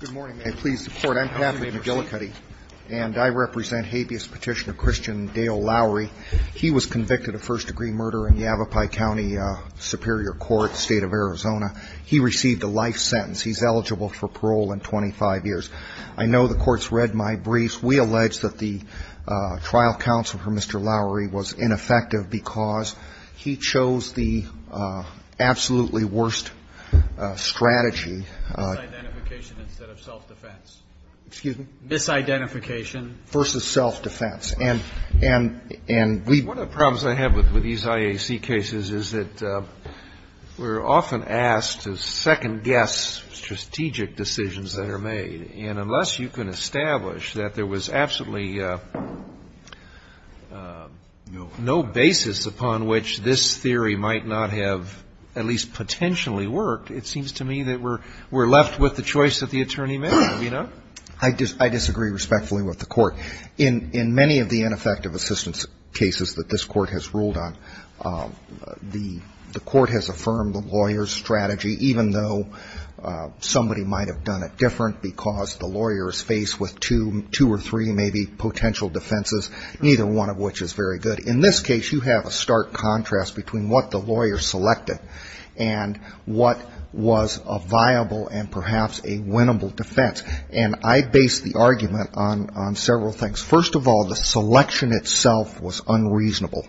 Good morning, and please support. I'm Patrick McGillicuddy, and I represent habeas petitioner Christian Dale Lowry. He was convicted of first-degree murder in the Avapai County Superior Court, State of Arizona. He received a life sentence. He's eligible for parole in 25 years. I know the Court's read my briefs. We allege that the trial counsel for Mr. Lowry was ineffective because he chose the absolutely worst strategy Misidentification instead of self-defense. Excuse me? Misidentification. Versus self-defense. And we One of the problems I have with these IAC cases is that we're often asked to second-guess strategic decisions that are made. And unless you can establish that there was absolutely no basis upon which this theory might not have at least potentially worked, it seems to me that we're left with the choice that the attorney made, you know? I disagree respectfully with the Court. In many of the ineffective assistance cases that this Court has ruled on, the Court has affirmed the lawyer's strategy, even though somebody might have done it different because the lawyer is faced with two or three maybe potential defenses, neither one of which is very good. In this case, you have a stark contrast between what the lawyer selected and what was a viable and perhaps a winnable defense. And I base the argument on several things. First of all, the selection itself was unreasonable.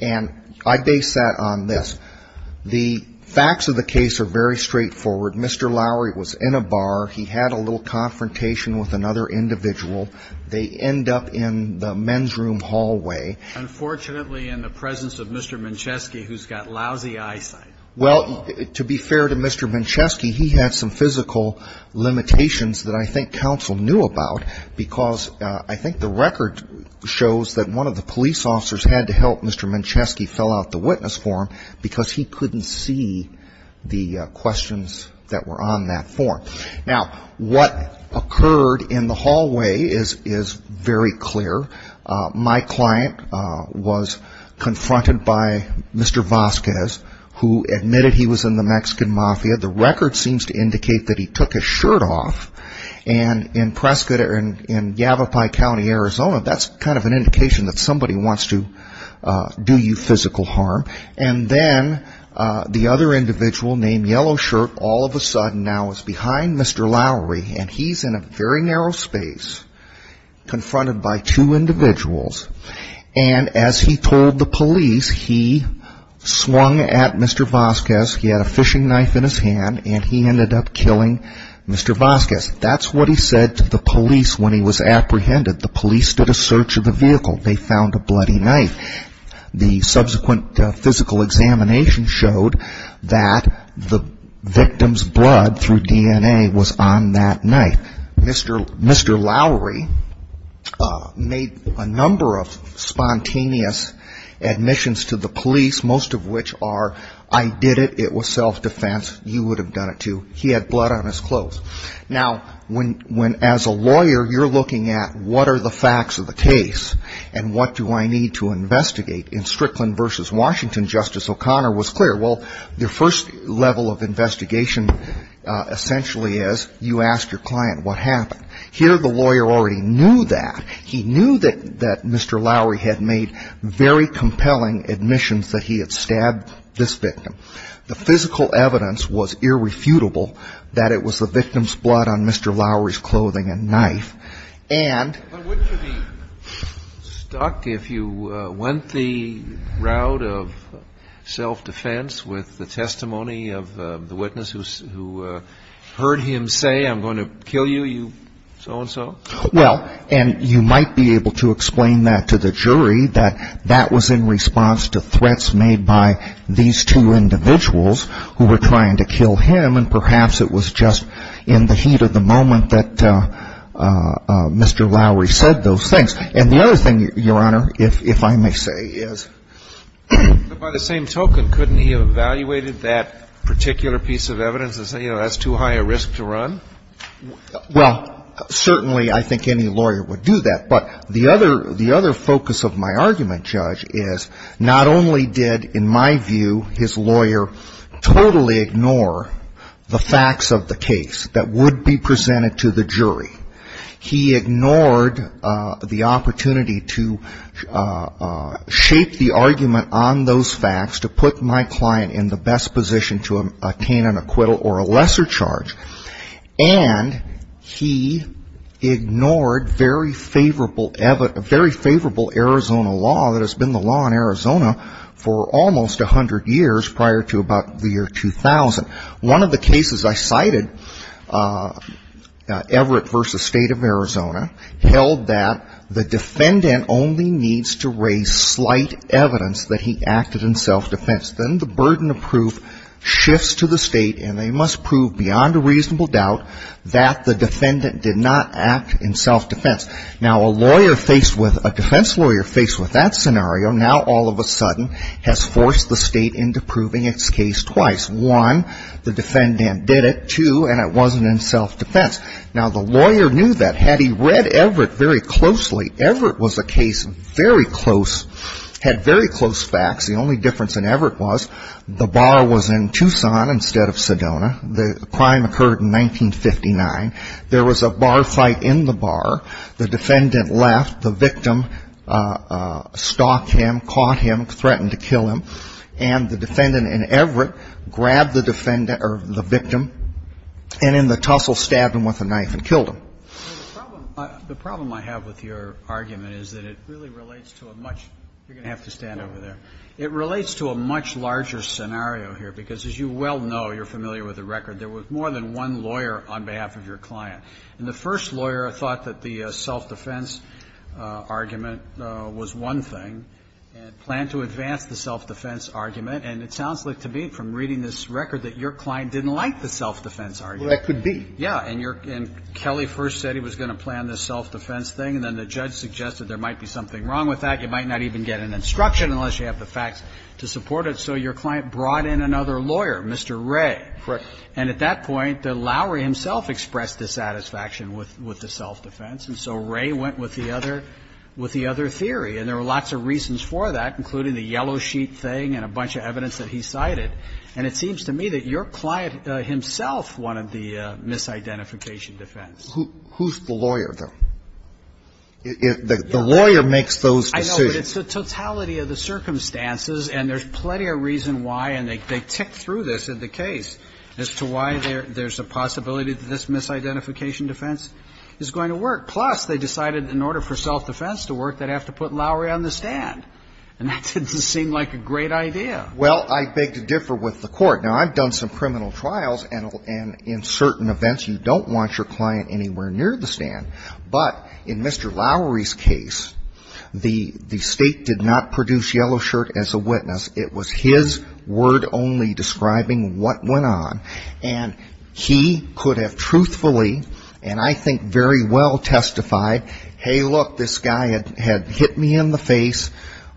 And I base that on this. The facts of the case are very straightforward. Mr. Lowry was in a bar. He had a little confrontation with another individual. They end up in the men's room hallway. Unfortunately, in the presence of Mr. Mincheski, who's got lousy eyesight. Well, to be fair to Mr. Mincheski, he had some physical limitations that I think counsel knew about, because I think the record shows that one of the police officers had to help Mr. Mincheski fill out the witness form because he couldn't see the questions that were on that form. Now, what occurred in the hallway is very clear. My client was confronted by Mr. Vasquez, who admitted he was in the Mexican mafia. The record seems to indicate that he took his shirt off. And in Prescott or in Yavapai County, Arizona, that's kind of an indication that somebody wants to do you physical harm. And then the other individual named Yellow Shirt all of a sudden now is behind Mr. Lowry, and he's in a very narrow space confronted by two individuals. And as he told the police, he swung at Mr. Vasquez. He had a fishing knife in his hand, and he ended up killing Mr. Vasquez. That's what he said to the police when he was apprehended. The police did a search of the vehicle. They found a bloody knife. The subsequent physical examination showed that the victim's blood through DNA was on that knife. Mr. Lowry made a number of spontaneous admissions to the police, most of which are, I did it, it was self-defense, you would have done it too, he had blood on his clothes. Now, when as a lawyer you're looking at what are the facts of the case and what do I need to investigate in Strickland v. Washington, Justice O'Connor was clear. Well, the first level of investigation essentially is you ask your client what happened. Here the lawyer already knew that. He knew that Mr. Lowry had made very compelling admissions that he had stabbed this victim. The physical evidence was irrefutable that it was the victim's blood on Mr. Lowry's clothing and knife. But wouldn't you be stuck if you went the route of self-defense with the testimony of the witness who heard him say, I'm going to kill you, you so-and-so? Well, and you might be able to explain that to the jury, that that was in response to threats made by these two individuals who were trying to kill him and perhaps it was just in the heat of the moment that Mr. Lowry said those things. And the other thing, Your Honor, if I may say, is by the same token, couldn't he have evaluated that particular piece of evidence and say, you know, that's too high a risk to run? Well, certainly I think any lawyer would do that. But the other focus of my argument, Judge, is not only did, in my view, his lawyer totally ignore the facts of the case that would be presented to the jury, he ignored the opportunity to shape the argument on those facts to put my client in the best position to obtain an acquittal or a lesser charge, and he ignored very favorable Arizona law that has been the law in Arizona for almost 100 years prior to about the year 2000. One of the cases I cited, Everett v. State of Arizona, held that the defendant only needs to raise slight evidence that he acted in self-defense. Then the burden of proof shifts to the State, and they must prove beyond a reasonable doubt that the defendant did not act in self-defense. Now, a lawyer faced with a defense lawyer faced with that scenario now all of a sudden has forced the State into proving its case twice. One, the defendant did it. Two, and it wasn't in self-defense. Now, the lawyer knew that. Had he read Everett very closely, Everett was a case very close, had very close facts. The only difference in Everett was the bar was in Tucson instead of Sedona. The crime occurred in 1959. There was a bar fight in the bar. The defendant left. The victim stalked him, caught him, threatened to kill him. And the defendant in Everett grabbed the victim and in the tussle stabbed him with a knife and killed him. The problem I have with your argument is that it really relates to a much you're going to have to stand over there. It relates to a much larger scenario here, because as you well know, you're familiar with the record, there was more than one lawyer on behalf of your client. And the first lawyer thought that the self-defense argument was one thing and planned to advance the self-defense argument. And it sounds like to me from reading this record that your client didn't like the self-defense argument. Well, that could be. Yeah. And Kelly first said he was going to plan this self-defense thing. And then the judge suggested there might be something wrong with that. You might not even get an instruction unless you have the facts to support it. So your client brought in another lawyer, Mr. Ray. Correct. And at that point, Lowery himself expressed dissatisfaction with the self-defense. And so Ray went with the other theory. And there were lots of reasons for that, including the yellow sheet thing and a bunch of evidence that he cited. And it seems to me that your client himself wanted the misidentification defense. Who's the lawyer, though? The lawyer makes those decisions. I know, but it's the totality of the circumstances, and there's plenty of reason why, and they ticked through this in the case, as to why there's a possibility that this misidentification defense is going to work. Plus, they decided in order for self-defense to work, they'd have to put Lowery on the stand. And that didn't seem like a great idea. Well, I beg to differ with the court. Now, I've done some criminal trials, and in certain events, you don't want your client anywhere near the stand. But in Mr. Lowery's case, the State did not produce Yellow Shirt as a witness. It was his word only describing what went on. And he could have truthfully, and I think very well, testified, hey, look, this guy had hit me in the face.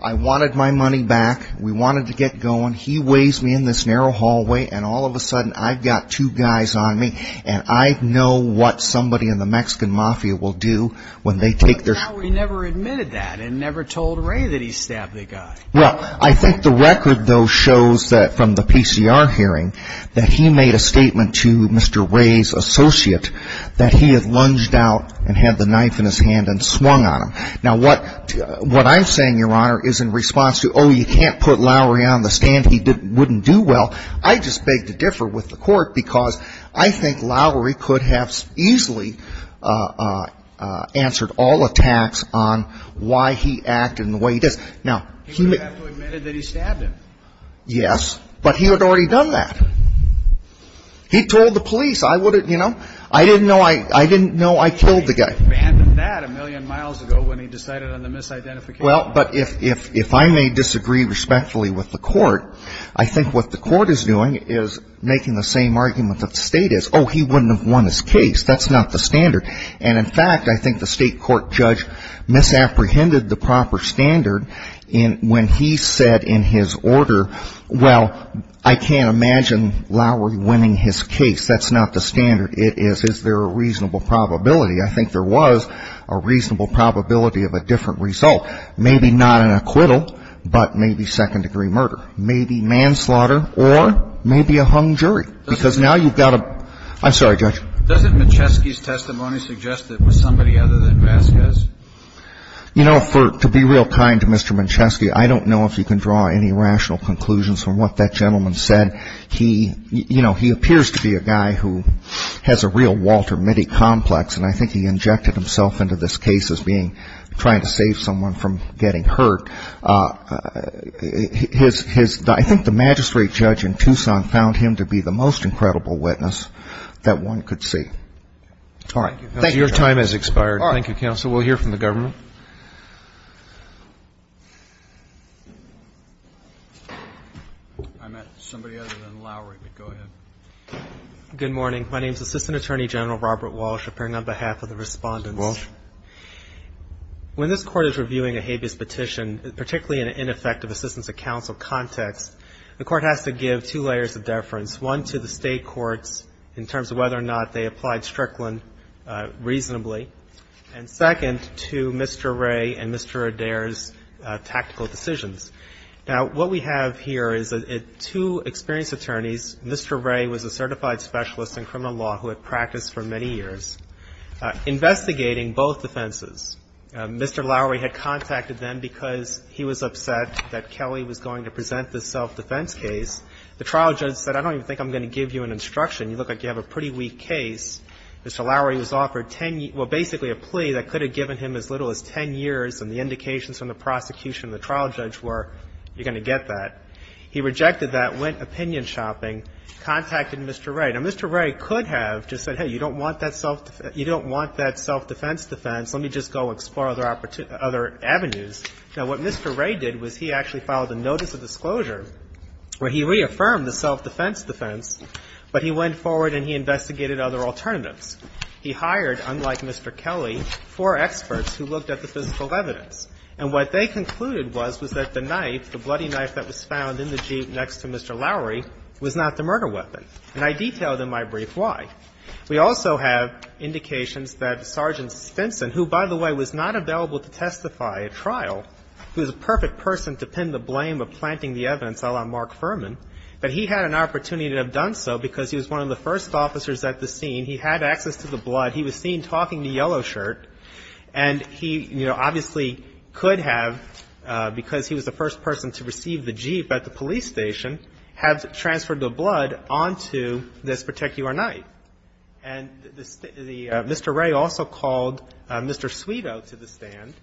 I wanted my money back. We wanted to get going. He weighs me in this narrow hallway, and all of a sudden, I've got two guys on me, and I know what somebody in the Mexican Mafia will do when they take their shot. But Lowery never admitted that and never told Ray that he stabbed the guy. Well, I think the record, though, shows that from the PCR hearing, that he made a statement to Mr. Ray's associate that he had lunged out and had the knife in his hand and swung on him. Now, what I'm saying, Your Honor, is in response to, oh, you can't put Lowery on the stand, he wouldn't do well, I just beg to differ with the court, because I think Lowery could have easily answered all attacks on why he acted in the way he did. He would have to have admitted that he stabbed him. Yes, but he had already done that. He told the police. I didn't know I killed the guy. He abandoned that a million miles ago when he decided on the misidentification. Well, but if I may disagree respectfully with the court, I think what the court is doing is making the same argument that the State is. Oh, he wouldn't have won his case. That's not the standard. And, in fact, I think the State court judge misapprehended the proper standard when he said in his order, well, I can't imagine Lowery winning his case. That's not the standard. It is, is there a reasonable probability? I think there was a reasonable probability of a different result. Maybe not an acquittal, but maybe second-degree murder. Maybe manslaughter or maybe a hung jury. Because now you've got a... I'm sorry, Judge. Doesn't Mancheschi's testimony suggest that it was somebody other than Vasquez? You know, to be real kind to Mr. Mancheschi, I don't know if you can draw any rational conclusions from what that gentleman said. He, you know, he appears to be a guy who has a real Walter Mitty complex, and I think he injected himself into this case as being trying to save someone from getting hurt. His, I think the magistrate judge in Tucson found him to be the most incredible witness that one could see. All right. Thank you. Your time has expired. Thank you, Counsel. We'll hear from the government. I'm at somebody other than Lowery, but go ahead. Good morning. My name is Assistant Attorney General Robert Walsh, appearing on behalf of the respondents. Mr. Walsh. When this Court is reviewing a habeas petition, particularly in an ineffective assistance of counsel context, the Court has to give two layers of deference, one to the State courts in terms of whether or not they applied Strickland reasonably, and second to Mr. Ray and Mr. Adair's tactical decisions. Now, what we have here is two experienced attorneys. Mr. Ray was a certified specialist in criminal law who had practiced for many years investigating both defenses. Mr. Lowery had contacted them because he was upset that Kelly was going to present this self-defense case. The trial judge said, I don't even think I'm going to give you an instruction. You look like you have a pretty weak case. Mr. Lowery was offered 10 years, well, basically a plea that could have given him as little as 10 years, and the indications from the prosecution and the trial judge were, you're going to get that. He rejected that, went opinion shopping, contacted Mr. Ray. Now, Mr. Ray could have just said, hey, you don't want that self-defense defense, let me just go explore other avenues. Now, what Mr. Ray did was he actually filed a notice of disclosure where he reaffirmed the self-defense defense, but he went forward and he investigated other alternatives. He hired, unlike Mr. Kelly, four experts who looked at the physical evidence. And what they concluded was, was that the knife, the bloody knife that was found in the Jeep next to Mr. Lowery, was not the murder weapon. And I detailed in my brief why. We also have indications that Sergeant Stinson, who, by the way, was not available to testify at trial, who is a perfect person to pin the blame of planting the evidence, a la Mark Furman, that he had an opportunity to have done so because he was one of the first officers at the scene. He had access to the blood. He was seen talking in a yellow shirt. And he, you know, obviously could have, because he was the first person to receive the Jeep at the police station, have transferred the blood onto this particular knife. And Mr. Ray also called Mr. Suido to the stand,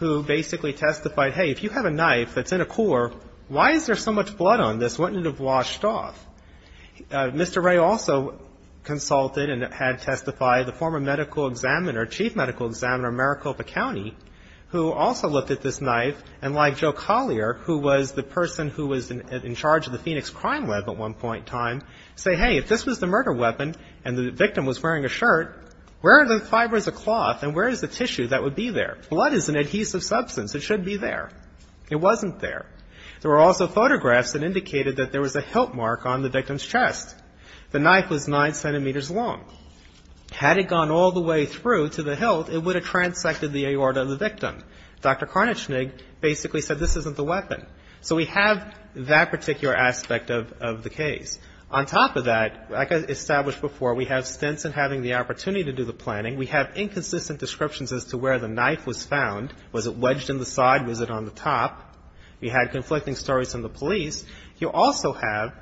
who basically testified, hey, if you have a knife that's in a core, why is there so much blood on this? Wouldn't it have washed off? Mr. Ray also consulted and had testified. The former medical examiner, chief medical examiner, Maricopa County, who also looked at this knife and, like Joe Collier, who was the person who was in charge of the Phoenix Crime Lab at one point in time, say, hey, if this was the murder weapon and the victim was wearing a shirt, where are the fibers of cloth and where is the tissue that would be there? Blood is an adhesive substance. It should be there. It wasn't there. There were also photographs that indicated that there was a hilt mark on the victim's chest. The knife was nine centimeters long. Had it gone all the way through to the hilt, it would have transected the aorta of the victim. Dr. Carnichnig basically said this isn't the weapon. So we have that particular aspect of the case. On top of that, like I established before, we have Stinson having the opportunity to do the planning. We have inconsistent descriptions as to where the knife was found. Was it wedged in the side? Was it on the top? We had conflicting stories from the police. You also have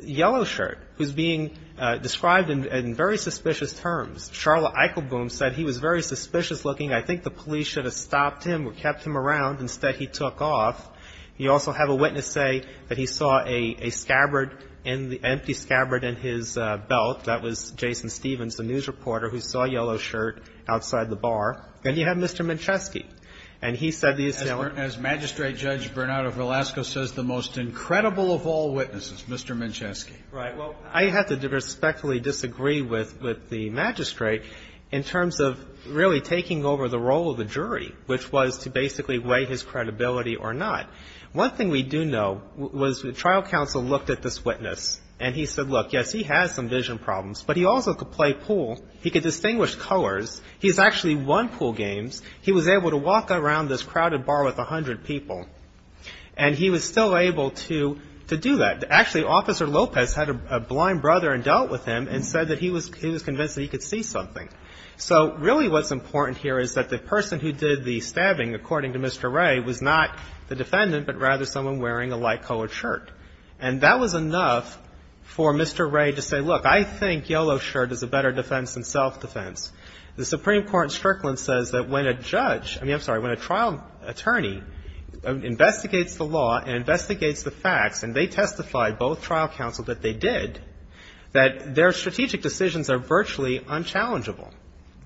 Yellow Shirt, who's being described in very suspicious terms. Charlotte Eichelboom said he was very suspicious-looking. I think the police should have stopped him or kept him around. Instead, he took off. You also have a witness say that he saw a scabbard, an empty scabbard in his belt. That was Jason Stevens, the news reporter, who saw Yellow Shirt outside the bar. Then you have Mr. Mincheski. And he said the assailant ---- Mr. Mincheski. Right. Well, I have to respectfully disagree with the magistrate in terms of really taking over the role of the jury, which was to basically weigh his credibility or not. One thing we do know was the trial counsel looked at this witness, and he said, look, yes, he has some vision problems, but he also could play pool. He could distinguish colors. He's actually won pool games. He was able to walk around this crowded bar with 100 people. And he was still able to do that. Actually, Officer Lopez had a blind brother and dealt with him and said that he was convinced that he could see something. So really what's important here is that the person who did the stabbing, according to Mr. Ray, was not the defendant, but rather someone wearing a light-colored shirt. And that was enough for Mr. Ray to say, look, I think Yellow Shirt is a better defense than self-defense. The Supreme Court in Strickland says that when a judge ---- I mean, I'm sorry, when a trial attorney investigates the law and investigates the facts, and they testified, both trial counsel, that they did, that their strategic decisions are virtually unchallengeable.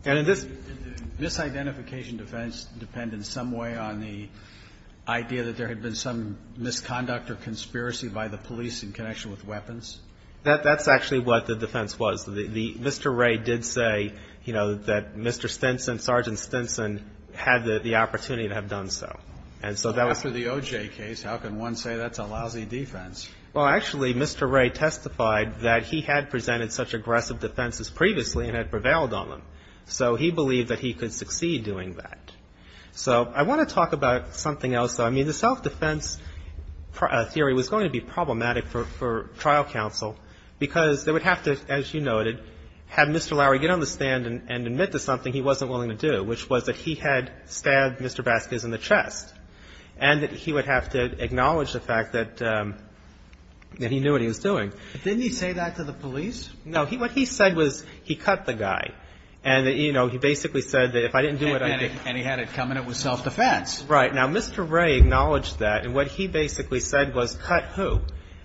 And in this ---- Roberts. Did the misidentification defense depend in some way on the idea that there had been some misconduct or conspiracy by the police in connection with weapons? That's actually what the defense was. Mr. Ray did say, you know, that Mr. Stinson, Sergeant Stinson, had the opportunity to have done so. And so that was ---- But after the OJ case, how can one say that's a lousy defense? Well, actually, Mr. Ray testified that he had presented such aggressive defenses previously and had prevailed on them. So he believed that he could succeed doing that. So I want to talk about something else, though. I mean, the self-defense theory was going to be problematic for trial counsel because they would have to, as you noted, have Mr. Lowery get on the stand and admit to something he wasn't willing to do, which was that he had stabbed Mr. Vasquez in the chest and that he would have to acknowledge the fact that he knew what he was doing. Didn't he say that to the police? No. What he said was he cut the guy. And, you know, he basically said that if I didn't do it, I'd be ---- And he had it coming. It was self-defense. Right. Now, Mr. Ray acknowledged that. And what he basically said was cut who?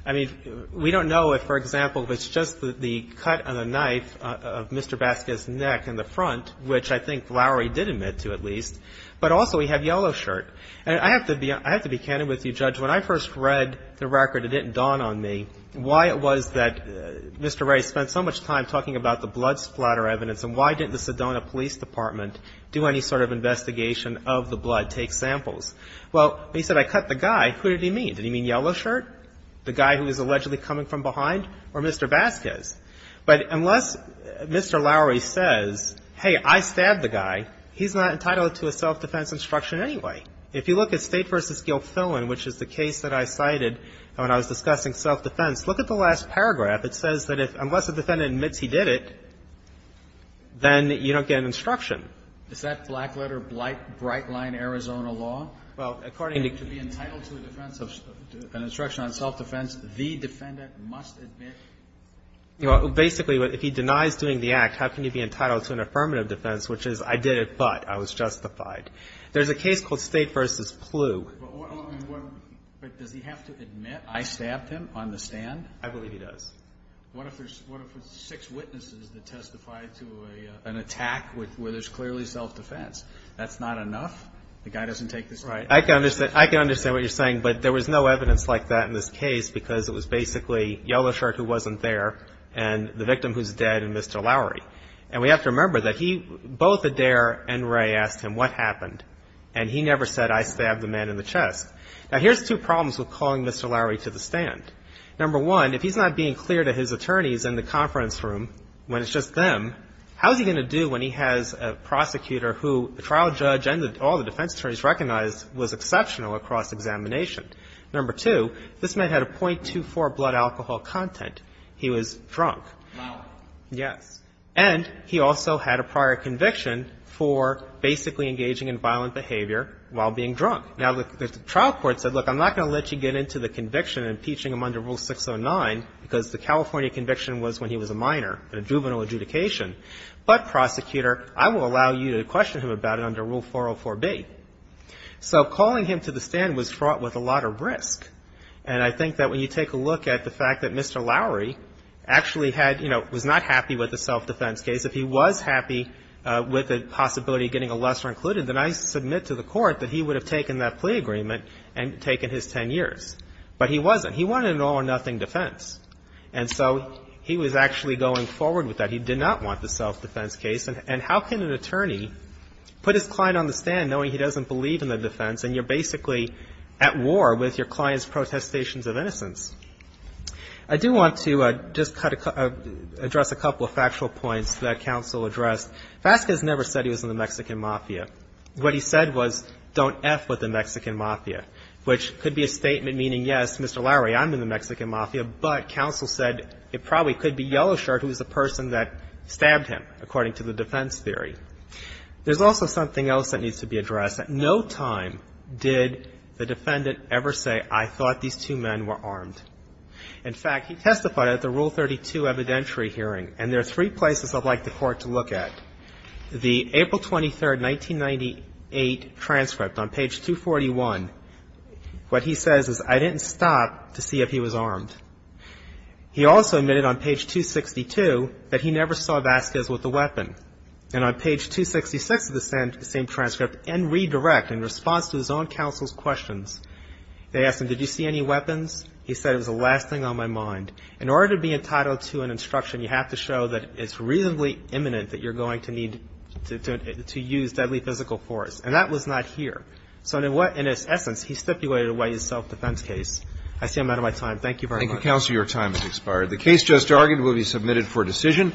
I mean, we don't know if, for example, if it's just the cut on the knife of Mr. Vasquez's arm in the front, which I think Lowery did admit to at least, but also he had yellow shirt. And I have to be candid with you, Judge. When I first read the record, it didn't dawn on me why it was that Mr. Ray spent so much time talking about the blood splatter evidence and why didn't the Sedona Police Department do any sort of investigation of the blood, take samples. Well, he said I cut the guy. Who did he mean? Did he mean yellow shirt, the guy who was allegedly coming from behind, or Mr. Vasquez? But unless Mr. Lowery says, hey, I stabbed the guy, he's not entitled to a self-defense instruction anyway. If you look at State v. Gilfillan, which is the case that I cited when I was discussing self-defense, look at the last paragraph. It says that unless a defendant admits he did it, then you don't get an instruction. Is that black-letter, bright-line Arizona law? Well, according to be entitled to an instruction on self-defense, the defendant must admit. Basically, if he denies doing the act, how can he be entitled to an affirmative defense, which is I did it, but I was justified. There's a case called State v. Plough. But does he have to admit I stabbed him on the stand? I believe he does. What if there's six witnesses that testify to an attack where there's clearly self-defense? That's not enough? The guy doesn't take this right? I can understand what you're saying, but there was no evidence like that in this case because it was basically Yellowshirt who wasn't there and the victim who's dead and Mr. Lowery. And we have to remember that he – both Adair and Ray asked him what happened, and he never said I stabbed the man in the chest. Now, here's two problems with calling Mr. Lowery to the stand. Number one, if he's not being clear to his attorneys in the conference room when it's just them, how's he going to do when he has a prosecutor who the trial judge and all the defense attorneys recognized was exceptional across examination? Number two, this man had a .24 blood alcohol content. He was drunk. Lowery. Yes. And he also had a prior conviction for basically engaging in violent behavior while being drunk. Now, the trial court said, look, I'm not going to let you get into the conviction and impeaching him under Rule 609 because the California conviction was when he was a minor in a juvenile adjudication. But, prosecutor, I will allow you to question him about it under Rule 404B. So calling him to the stand was fraught with a lot of risk. And I think that when you take a look at the fact that Mr. Lowery actually had, you know, was not happy with the self-defense case. If he was happy with the possibility of getting a lesser included, then I submit to the Court that he would have taken that plea agreement and taken his 10 years. But he wasn't. He wanted an all-or-nothing defense. And so he was actually going forward with that. He did not want the self-defense case. And how can an attorney put his client on the stand knowing he doesn't believe in the defense and you're basically at war with your client's protestations of innocence? I do want to just address a couple of factual points that counsel addressed. Vasquez never said he was in the Mexican mafia. What he said was, don't F with the Mexican mafia, which could be a statement meaning, yes, Mr. Lowery, I'm in the Mexican mafia, but counsel said it probably could be Yellowshirt, who was the person that stabbed him, according to the defense theory. There's also something else that needs to be addressed. At no time did the defendant ever say, I thought these two men were armed. In fact, he testified at the Rule 32 evidentiary hearing. And there are three places I'd like the Court to look at. The April 23, 1998, transcript on page 241, what he says is, I didn't stop to see if he was armed. He also admitted on page 262 that he never saw Vasquez with a weapon. And on page 266 of the same transcript, in redirect, in response to his own counsel's questions, they asked him, did you see any weapons? He said, it was the last thing on my mind. In order to be entitled to an instruction, you have to show that it's reasonably imminent that you're going to need to use deadly physical force. And that was not here. So in its essence, he stipulated away his self-defense case. I see I'm out of my time. Thank you very much. Thank you, counsel. Your time has expired. The case just argued will be submitted for decision.